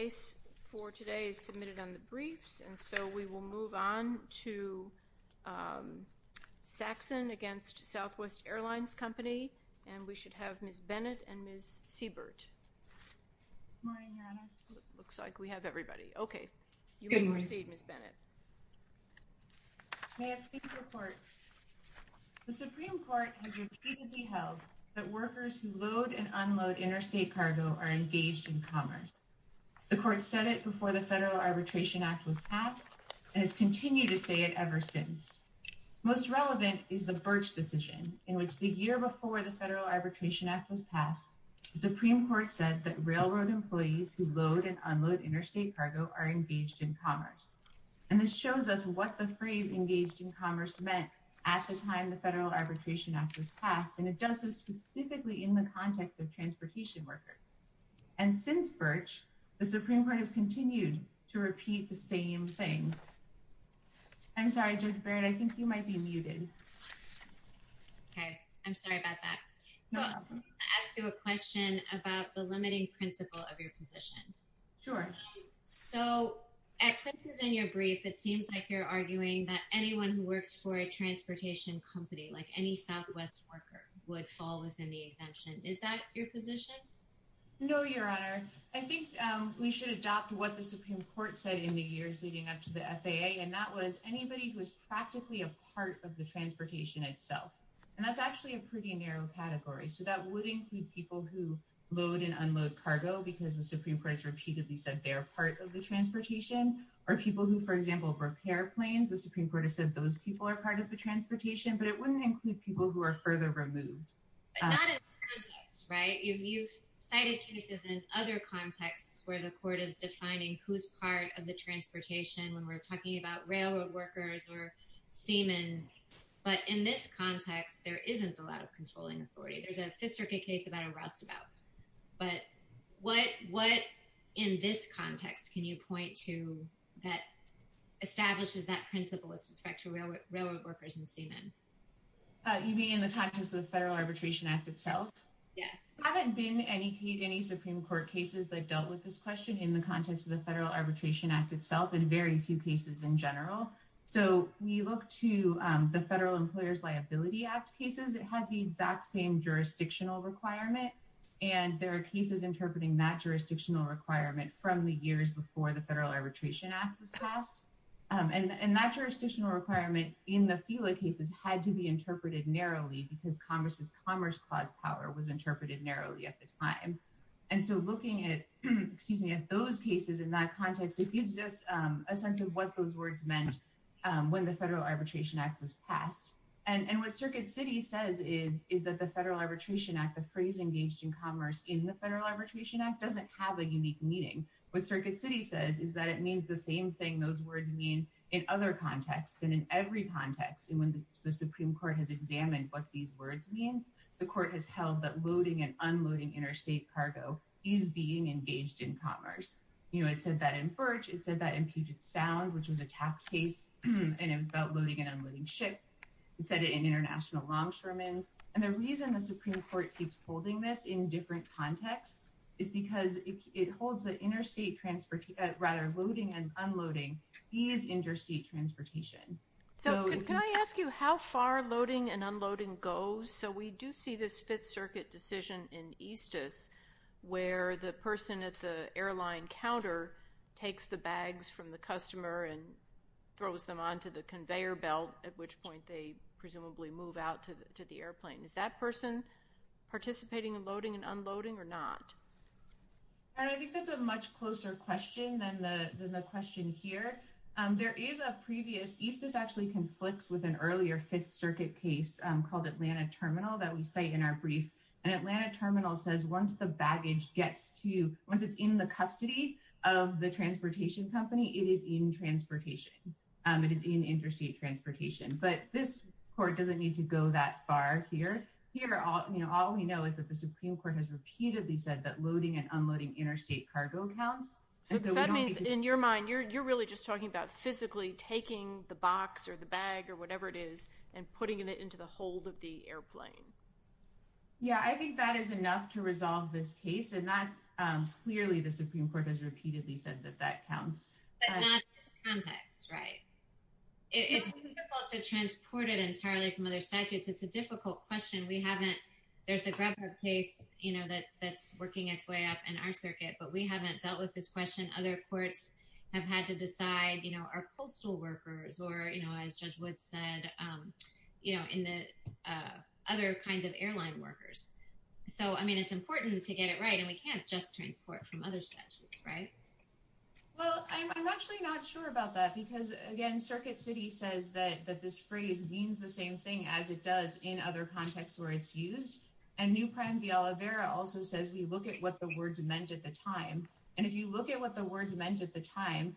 The case for today is submitted on the briefs, and so we will move on to Saxon v. Southwest Airlines Company, and we should have Ms. Bennett and Ms. Siebert. Good morning, Your Honor. Looks like we have everybody. Okay, you may proceed, Ms. Bennett. May it please the Court. The Supreme Court has repeatedly held that workers who load and unload interstate cargo are engaged in commerce. The Court said it before the Federal Arbitration Act was passed and has continued to say it ever since. Most relevant is the Birch decision, in which the year before the Federal Arbitration Act was passed, the Supreme Court said that railroad employees who load and unload interstate cargo are engaged in commerce. And this shows us what the phrase engaged in commerce meant at the time the Federal Arbitration Act was passed, and it does so specifically in the context of transportation workers. And since Birch, the Supreme Court has continued to repeat the same thing. I'm sorry, Judge Barrett, I think you might be muted. Okay, I'm sorry about that. So, I'm going to ask you a question about the limiting principle of your position. Sure. So, at places in your brief, it seems like you're arguing that anyone who works for a transportation company, like any Southwest worker, would fall within the exemption. Is that your position? No, Your Honor. I think we should adopt what the Supreme Court said in the years leading up to the FAA, and that was anybody who is practically a part of the transportation itself. And that's actually a pretty narrow category. So, that would include people who load and unload cargo, because the Supreme Court has repeatedly said they are part of the transportation, or people who, for example, repair planes. The Supreme Court has said those people are part of the transportation, but it wouldn't include people who are further removed. But not in this context, right? You've cited cases in other contexts where the court is defining who's part of the transportation when we're talking about railroad workers or seamen. But in this context, there isn't a lot of controlling authority. There's a Fifth Circuit case about a rustabout. But what, in this context, can you point to that establishes that principle with respect to railroad workers and seamen? You mean in the context of the Federal Arbitration Act itself? Yes. There haven't been any Supreme Court cases that dealt with this question in the context of the Federal Arbitration Act itself, and very few cases in general. So, when you look to the Federal Employers' Liability Act cases, it had the exact same jurisdictional requirement. And there are cases interpreting that jurisdictional requirement from the years before the Federal Arbitration Act was passed. And that jurisdictional requirement in the FILA cases had to be interpreted narrowly because Congress's Commerce Clause power was interpreted narrowly at the time. And so, looking at those cases in that context, it gives us a sense of what those words meant when the Federal Arbitration Act was passed. And what Circuit City says is that the Federal Arbitration Act, the phrase engaged in commerce in the Federal Arbitration Act, doesn't have a unique meaning. What Circuit City says is that it means the same thing those words mean in other contexts and in every context. And when the Supreme Court has examined what these words mean, the Court has held that loading and unloading interstate cargo is being engaged in commerce. You know, it said that in FERCH, it said that in Puget Sound, which was a tax case, and it was about loading and unloading ship. It said it in International Longshoremen's. And the reason the Supreme Court keeps holding this in different contexts is because it holds that interstate – rather, loading and unloading is interstate transportation. So, can I ask you how far loading and unloading goes? So, we do see this Fifth Circuit decision in Eastus where the person at the airline counter takes the bags from the customer and throws them onto the conveyor belt, at which point they presumably move out to the airplane. Is that person participating in loading and unloading or not? And I think that's a much closer question than the question here. There is a previous – Eastus actually conflicts with an earlier Fifth Circuit case called Atlanta Terminal that we cite in our brief. And Atlanta Terminal says once the baggage gets to – once it's in the custody of the transportation company, it is in transportation. It is in interstate transportation. But this court doesn't need to go that far here. Here, all we know is that the Supreme Court has repeatedly said that loading and unloading interstate cargo counts. So, that means in your mind, you're really just talking about physically taking the box or the bag or whatever it is and putting it into the hold of the airplane. Yeah, I think that is enough to resolve this case. And that's – clearly, the Supreme Court has repeatedly said that that counts. But not in this context, right? It's difficult to transport it entirely from other statutes. It's a difficult question. We haven't – there's the GrubHub case that's working its way up in our circuit, but we haven't dealt with this question. Other courts have had to decide, you know, are coastal workers or, you know, as Judge Wood said, you know, in the – other kinds of airline workers. So, I mean, it's important to get it right, and we can't just transport from other statutes, right? Well, I'm actually not sure about that because, again, Circuit City says that this phrase means the same thing as it does in other contexts where it's used. And New Prime de Oliveira also says we look at what the words meant at the time. And if you look at what the words meant at the time,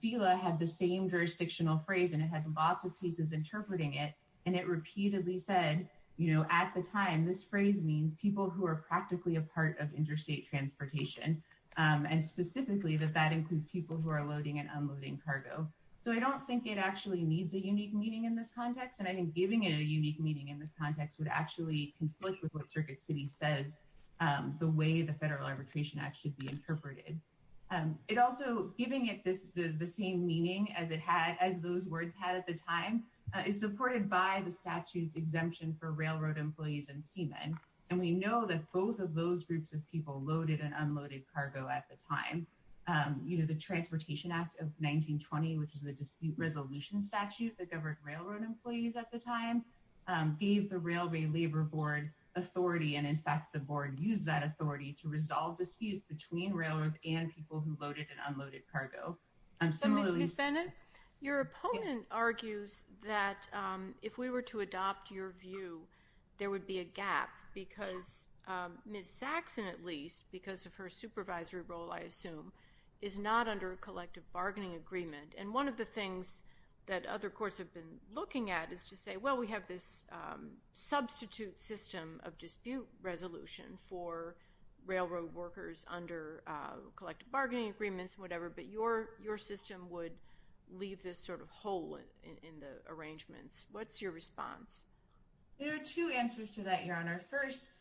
FILA had the same jurisdictional phrase, and it had lots of cases interpreting it. And it repeatedly said, you know, at the time, this phrase means people who are practically a part of interstate transportation. And specifically that that includes people who are loading and unloading cargo. So, I don't think it actually needs a unique meaning in this context. And I think giving it a unique meaning in this context would actually conflict with what Circuit City says the way the Federal Arbitration Act should be interpreted. It also – giving it the same meaning as it had – as those words had at the time is supported by the statute's exemption for railroad employees and seamen. And we know that both of those groups of people loaded and unloaded cargo at the time. You know, the Transportation Act of 1920, which is the dispute resolution statute that governed railroad employees at the time, gave the Railway Labor Board authority. And, in fact, the board used that authority to resolve disputes between railroads and people who loaded and unloaded cargo. Ms. Bennett, your opponent argues that if we were to adopt your view, there would be a gap because Ms. Saxon, at least, because of her supervisory role, I assume, is not under a collective bargaining agreement. And one of the things that other courts have been looking at is to say, well, we have this substitute system of dispute resolution for railroad workers under collective bargaining agreements and whatever. But your system would leave this sort of hole in the arrangements. What's your response? There are two answers to that, Your Honor. First,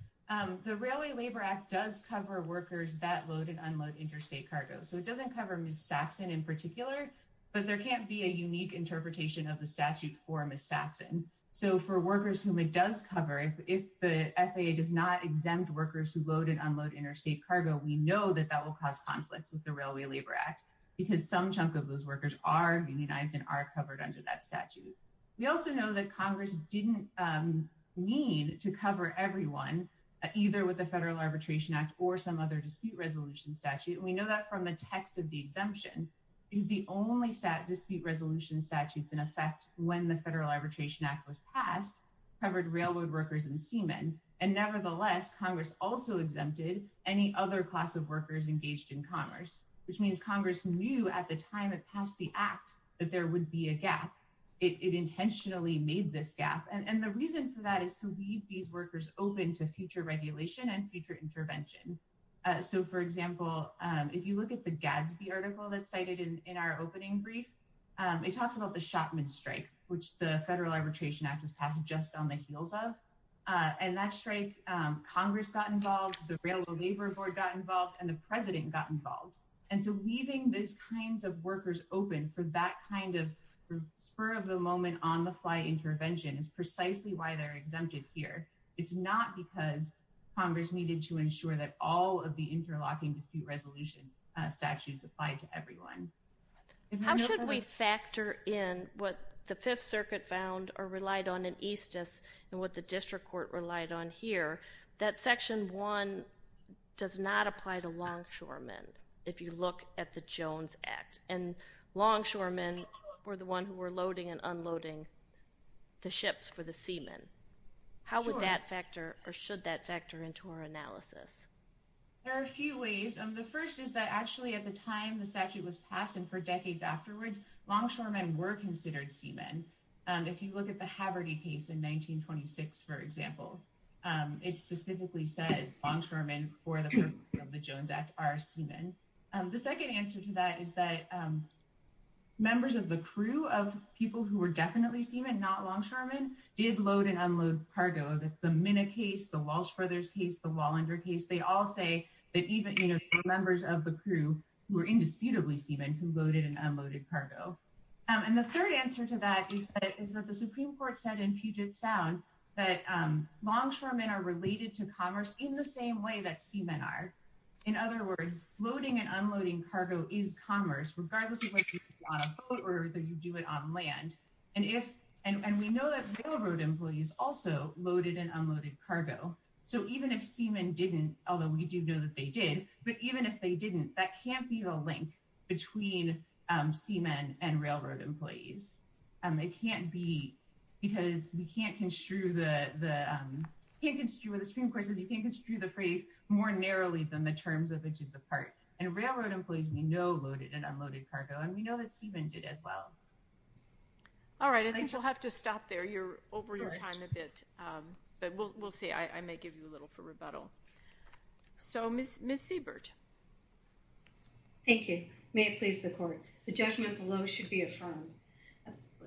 the Railway Labor Act does cover workers that load and unload interstate cargo. So it doesn't cover Ms. Saxon in particular, but there can't be a unique interpretation of the statute for Ms. Saxon. So for workers whom it does cover, if the FAA does not exempt workers who load and unload interstate cargo, we know that that will cause conflicts with the Railway Labor Act because some chunk of those workers are unionized and are covered under that statute. We also know that Congress didn't mean to cover everyone, either with the Federal Arbitration Act or some other dispute resolution statute. And we know that from the text of the exemption, because the only dispute resolution statutes in effect when the Federal Arbitration Act was passed covered railroad workers and seamen. And nevertheless, Congress also exempted any other class of workers engaged in commerce, which means Congress knew at the time it passed the act that there would be a gap. It intentionally made this gap. And the reason for that is to leave these workers open to future regulation and future intervention. So, for example, if you look at the Gadsby article that's cited in our opening brief, it talks about the Shotman strike, which the Federal Arbitration Act was passed just on the heels of. And that strike, Congress got involved, the Railway Labor Board got involved, and the President got involved. And so leaving these kinds of workers open for that kind of spur of the moment on the fly intervention is precisely why they're exempted here. It's not because Congress needed to ensure that all of the interlocking dispute resolution statutes apply to everyone. How should we factor in what the Fifth Circuit found or relied on in Eastus and what the District Court relied on here? That Section 1 does not apply to longshoremen, if you look at the Jones Act. And longshoremen were the one who were loading and unloading the ships for the seamen. How would that factor or should that factor into our analysis? There are a few ways. The first is that actually at the time the statute was passed and for decades afterwards, longshoremen were considered seamen. If you look at the Haverty case in 1926, for example, it specifically says longshoremen for the Jones Act are seamen. The second answer to that is that members of the crew of people who were definitely seamen, not longshoremen, did load and unload cargo. The Minna case, the Walsh Brothers case, the Wallander case, they all say that even members of the crew were indisputably seamen who loaded and unloaded cargo. And the third answer to that is that the Supreme Court said in Puget Sound that longshoremen are related to commerce in the same way that seamen are. In other words, loading and unloading cargo is commerce, regardless of whether you do it on a boat or whether you do it on land. And we know that railroad employees also loaded and unloaded cargo. So even if seamen didn't, although we do know that they did, but even if they didn't, that can't be the link between seamen and railroad employees. It can't be because you can't construe the Supreme Court says you can't construe the phrase more narrowly than the terms of inches apart. And railroad employees, we know loaded and unloaded cargo, and we know that seamen did as well. All right, I think we'll have to stop there. You're over your time a bit, but we'll see. I may give you a little for rebuttal. So, Miss Seabert. Thank you. May it please the court. The judgment below should be affirmed.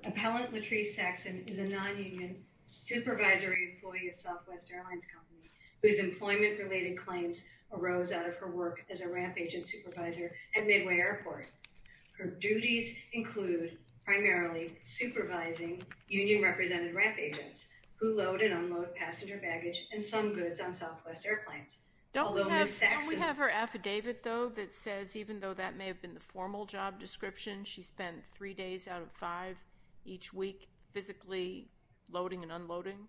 Appellant Latrice Saxon is a non-union supervisory employee of Southwest Airlines Company whose employment-related claims arose out of her work as a ramp agent supervisor at Midway Airport. Her duties include primarily supervising union-represented ramp agents who load and unload passenger baggage and some goods on Southwest Airplanes. Don't we have her affidavit, though, that says even though that may have been the formal job description, she spent three days out of five each week physically loading and unloading?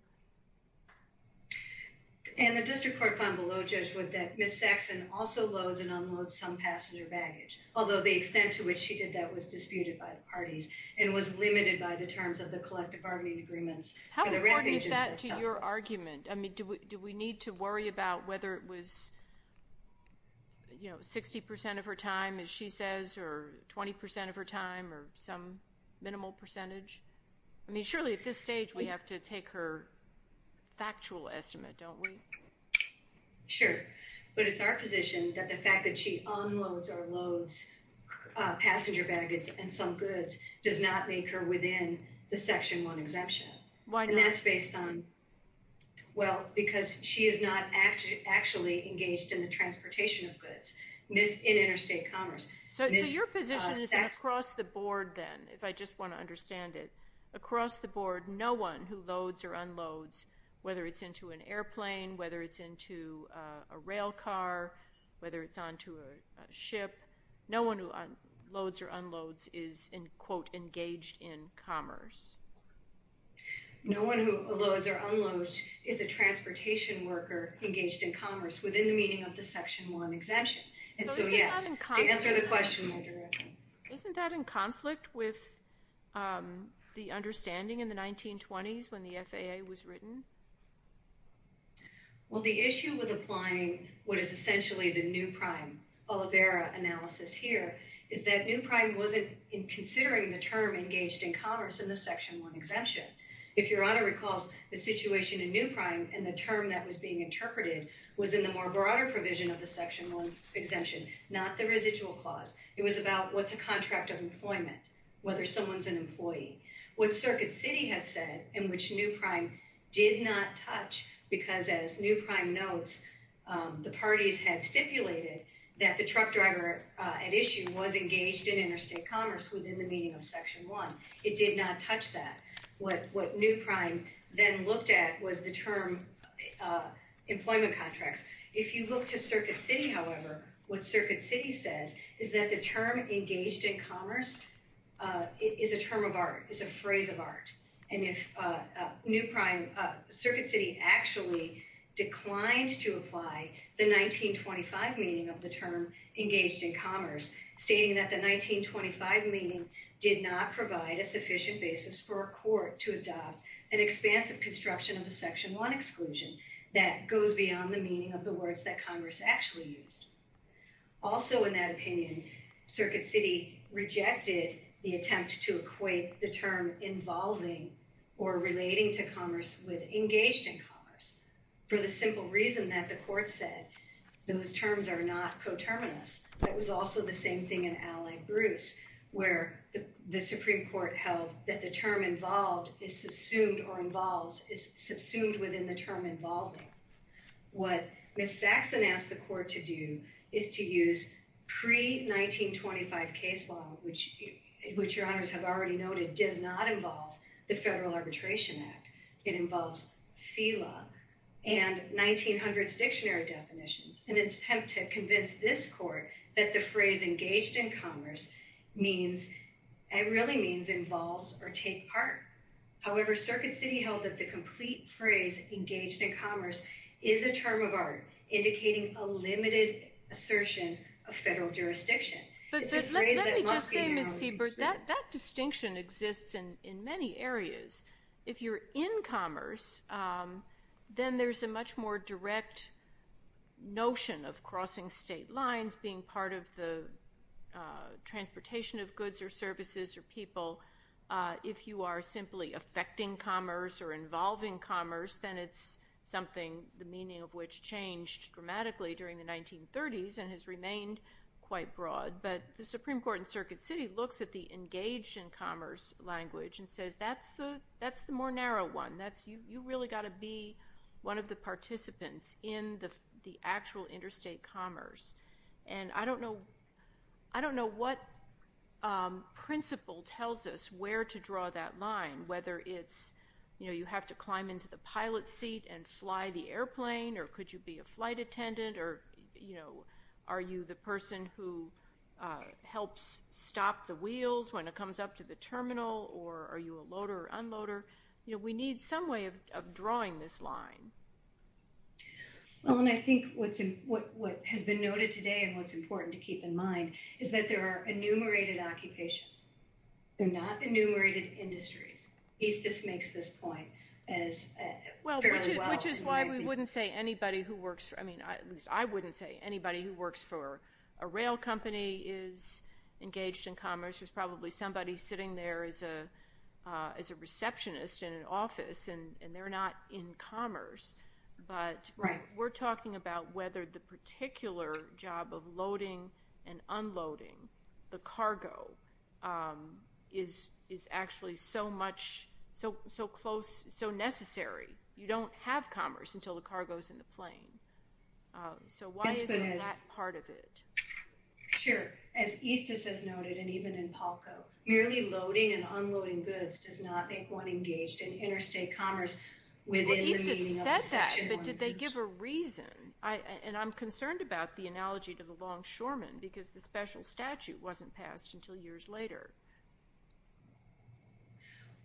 And the district court found below, Judge Wood, that Miss Saxon also loads and unloads some passenger baggage, although the extent to which she did that was disputed by the parties and was limited by the terms of the collective bargaining agreements. How important is that to your argument? I mean, do we need to worry about whether it was, you know, 60% of her time, as she says, or 20% of her time, or some minimal percentage? I mean, surely at this stage we have to take her factual estimate, don't we? Sure. But it's our position that the fact that she unloads or loads passenger baggage and some goods does not make her within the Section 1 exemption. Why not? And that's based on, well, because she is not actually engaged in the transportation of goods in interstate commerce. So your position is that across the board, then, if I just want to understand it, across the board, no one who loads or unloads, whether it's into an airplane, whether it's into a rail car, whether it's onto a ship, no one who loads or unloads is, quote, engaged in commerce. No one who loads or unloads is a transportation worker engaged in commerce within the meaning of the Section 1 exemption. And so, yes, to answer the question more directly. Isn't that in conflict with the understanding in the 1920s when the FAA was written? Well, the issue with applying what is essentially the new prime Olivera analysis here is that new prime wasn't considering the term engaged in commerce in the Section 1 exemption. If Your Honor recalls, the situation in new prime and the term that was being interpreted was in the more broader provision of the Section 1 exemption, not the residual clause. It was about what's a contract of employment, whether someone's an employee. What Circuit City has said, and which new prime did not touch, because as new prime notes, the parties had stipulated that the truck driver at issue was engaged in interstate commerce within the meaning of Section 1. It did not touch that. What new prime then looked at was the term employment contracts. If you look to Circuit City, however, what Circuit City says is that the term engaged in commerce is a term of art, is a phrase of art. And if new prime, Circuit City actually declined to apply the 1925 meaning of the term engaged in commerce, stating that the 1925 meaning did not provide a sufficient basis for a court to adopt an expansive construction of the Section 1 exclusion that goes beyond the meaning of the words that Congress actually used. Also in that opinion, Circuit City rejected the attempt to equate the term involving or relating to commerce with engaged in commerce for the simple reason that the court said those terms are not coterminous. That was also the same thing in Allied Bruce, where the Supreme Court held that the term involved is subsumed or involves, is subsumed within the term involving. What Ms. Saxon asked the court to do is to use pre-1925 case law, which your honors have already noted does not involve the Federal Arbitration Act. It involves FELA and 1900s dictionary definitions in an attempt to convince this court that the phrase engaged in commerce means, it really means involves or take part. However, Circuit City held that the complete phrase engaged in commerce is a term of art, indicating a limited assertion of federal jurisdiction. Let me just say, Ms. Siebert, that distinction exists in many areas. If you're in commerce, then there's a much more direct notion of crossing state lines, being part of the transportation of goods or services or people. If you are simply affecting commerce or involving commerce, then it's something, the meaning of which changed dramatically during the 1930s and has remained quite broad. The Supreme Court in Circuit City looks at the engaged in commerce language and says, that's the more narrow one. You've really got to be one of the participants in the actual interstate commerce. I don't know what principle tells us where to draw that line, whether it's you have to climb into the pilot seat and fly the airplane, or could you be a flight attendant, or are you the person who helps stop the wheels when it comes up to the terminal, or are you a loader or unloader? We need some way of drawing this line. I think what has been noted today and what's important to keep in mind is that there are enumerated occupations. They're not enumerated industries. Eastus makes this point fairly well. Which is why we wouldn't say anybody who works for, at least I wouldn't say anybody who works for a rail company is engaged in commerce. There's probably somebody sitting there as a receptionist in an office, and they're not in commerce. But we're talking about whether the particular job of loading and unloading the cargo is actually so much, so close, so necessary. You don't have commerce until the cargo's in the plane. So why isn't that part of it? Sure. As Eastus has noted, and even in Palco, merely loading and unloading goods does not make one engaged in interstate commerce within the meaning of the Section 112. Well, Eastus says that, but did they give a reason? And I'm concerned about the analogy to the longshoreman, because the special statute wasn't passed until years later.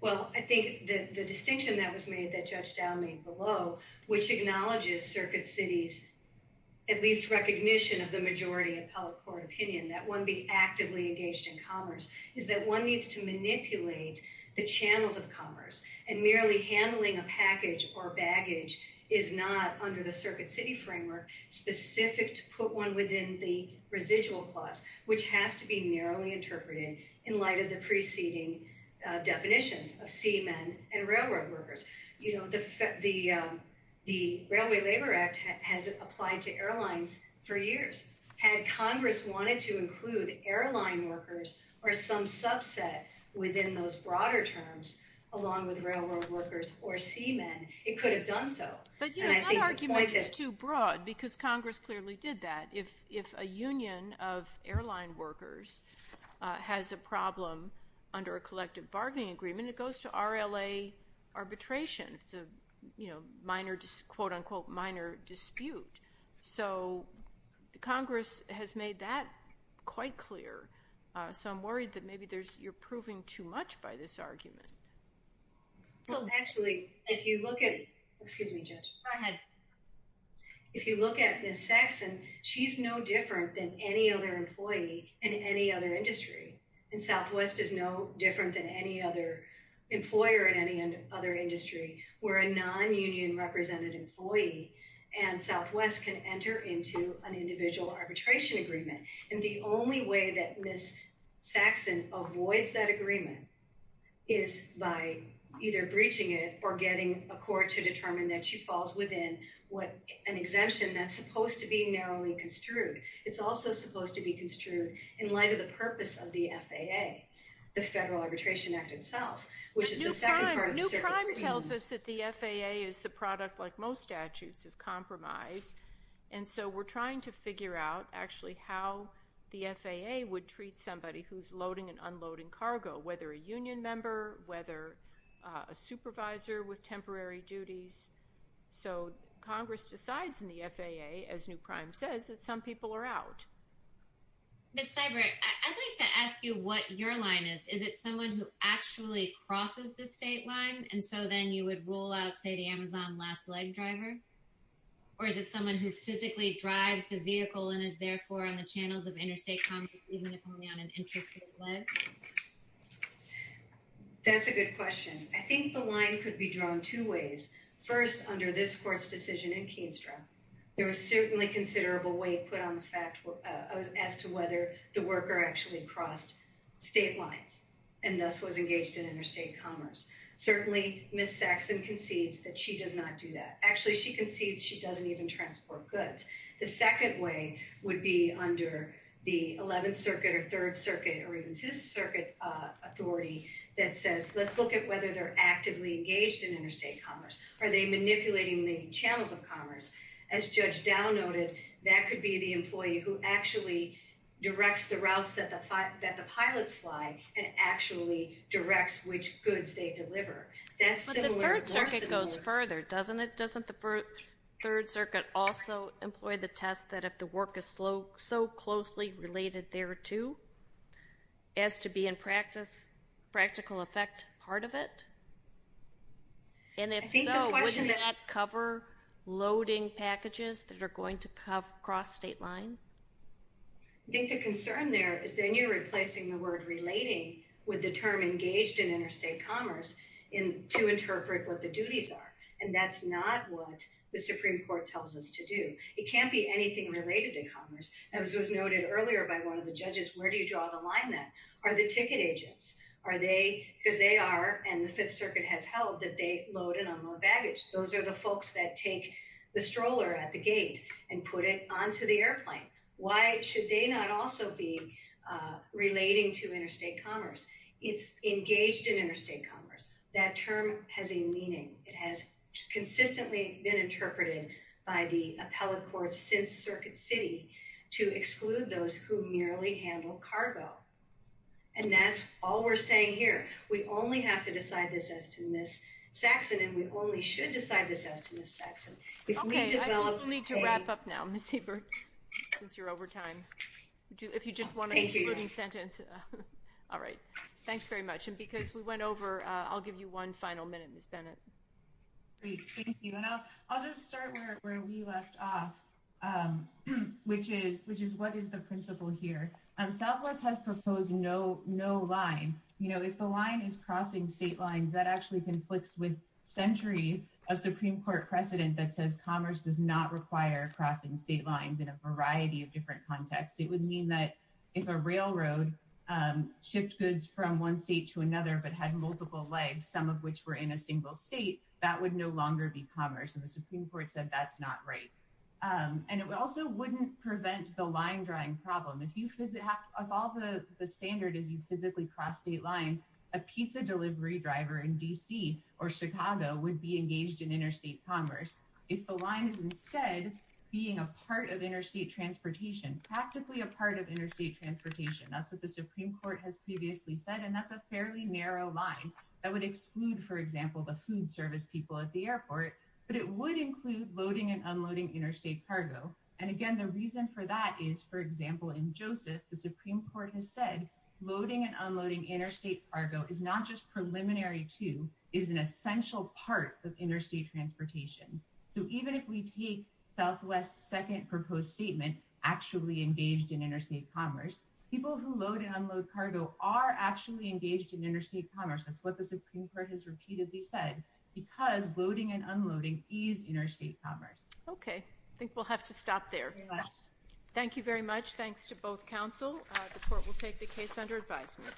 Well, I think the distinction that was made that Judge Dowd made below, which acknowledges Circuit City's at least recognition of the majority appellate court opinion that one be actively engaged in commerce, is that one needs to manipulate the channels of commerce, and merely handling a package or baggage is not, under the Circuit City framework, specific to put one within the residual clause, which has to be narrowly interpreted in light of the preceding definitions of seamen and railroad workers. The Railway Labor Act has applied to airlines for years. Had Congress wanted to include airline workers or some subset within those broader terms, along with railroad workers or seamen, it could have done so. But that argument is too broad, because Congress clearly did that. If a union of airline workers has a problem under a collective bargaining agreement, it goes to RLA arbitration. It's a minor, quote, unquote, minor dispute. So Congress has made that quite clear. So I'm worried that maybe you're proving too much by this argument. So actually, if you look at, excuse me, Judge. Go ahead. If you look at Ms. Saxon, she's no different than any other employee in any other industry. And Southwest is no different than any other employer in any other industry. We're a non-union represented employee, and Southwest can enter into an individual arbitration agreement. And the only way that Ms. Saxon avoids that agreement is by either breaching it or getting a court to determine that she falls within an exemption that's supposed to be narrowly construed. It's also supposed to be construed in light of the purpose of the FAA, the Federal Arbitration Act itself, which is the second part of the service scheme. But New Crime tells us that the FAA is the product, like most statutes, of compromise. And so we're trying to figure out, actually, how the FAA would treat somebody who's loading and unloading cargo, whether a union member, whether a supervisor with temporary duties. So Congress decides in the FAA, as New Crime says, that some people are out. Ms. Seibert, I'd like to ask you what your line is. Is it someone who actually crosses the state line? And so then you would rule out, say, the Amazon last leg driver? Or is it someone who physically drives the vehicle and is, therefore, on the channels of interstate commerce, even if only on an interstate leg? That's a good question. I think the line could be drawn two ways. First, under this court's decision in Keenestra, there was certainly considerable weight put on the fact as to whether the worker actually crossed state lines. And thus, was engaged in interstate commerce. Certainly, Ms. Saxon concedes that she does not do that. Actually, she concedes she doesn't even transport goods. The second way would be under the 11th Circuit or 3rd Circuit or even 2nd Circuit authority that says, let's look at whether they're actively engaged in interstate commerce. Are they manipulating the channels of commerce? As Judge Dow noted, that could be the employee who actually directs the routes that the pilots fly and actually directs which goods they deliver. That's similar. But the 3rd Circuit goes further, doesn't it? Doesn't the 3rd Circuit also employ the test that if the work is so closely related thereto as to be in practical effect part of it? And if so, wouldn't that cover loading packages that are going to cross state line? I think the concern there is then you're replacing the word relating with the term engaged in interstate commerce to interpret what the duties are. And that's not what the Supreme Court tells us to do. It can't be anything related to commerce. As was noted earlier by one of the judges, where do you draw the line then? Are the ticket agents? Because they are, and the 5th Circuit has held, that they load and unload baggage. Those are the folks that take the stroller at the gate and put it onto the airplane. Why should they not also be relating to interstate commerce? It's engaged in interstate commerce. That term has a meaning. It has consistently been interpreted by the appellate courts since Circuit City to exclude those who merely handle cargo. And that's all we're saying here. We only have to decide this as to Ms. Saxon, and we only should decide this as to Ms. Saxon. Okay. I think we need to wrap up now, Ms. Hiebert, since you're over time. If you just want a concluding sentence. All right. Thanks very much. And because we went over, I'll give you one final minute, Ms. Bennett. Great. Thank you. And I'll just start where we left off, which is what is the principle here? Southwest has proposed no line. You know, if the line is crossing state lines, that actually conflicts with century of Supreme Court precedent that says commerce does not require crossing state lines in a variety of different contexts. It would mean that if a railroad shipped goods from one state to another but had multiple legs, some of which were in a single state, that would no longer be commerce. And the Supreme Court said that's not right. And it also wouldn't prevent the line drawing problem. If all the standard is you physically cross state lines, a pizza delivery driver in D.C. or Chicago would be engaged in interstate commerce. If the line is instead being a part of interstate transportation, practically a part of interstate transportation, that's what the Supreme Court has previously said, and that's a fairly narrow line that would exclude, for example, the food service people at the airport. But it would include loading and unloading interstate cargo. And, again, the reason for that is, for example, in Joseph, the Supreme Court has said loading and unloading interstate cargo is not just preliminary to, is an essential part of interstate transportation. So even if we take Southwest's second proposed statement, actually engaged in interstate commerce, people who load and unload cargo are actually engaged in interstate commerce. That's what the Supreme Court has repeatedly said, because loading and unloading is interstate commerce. Okay. I think we'll have to stop there. Thank you very much. Thanks to both counsel. The court will take the case under advisement.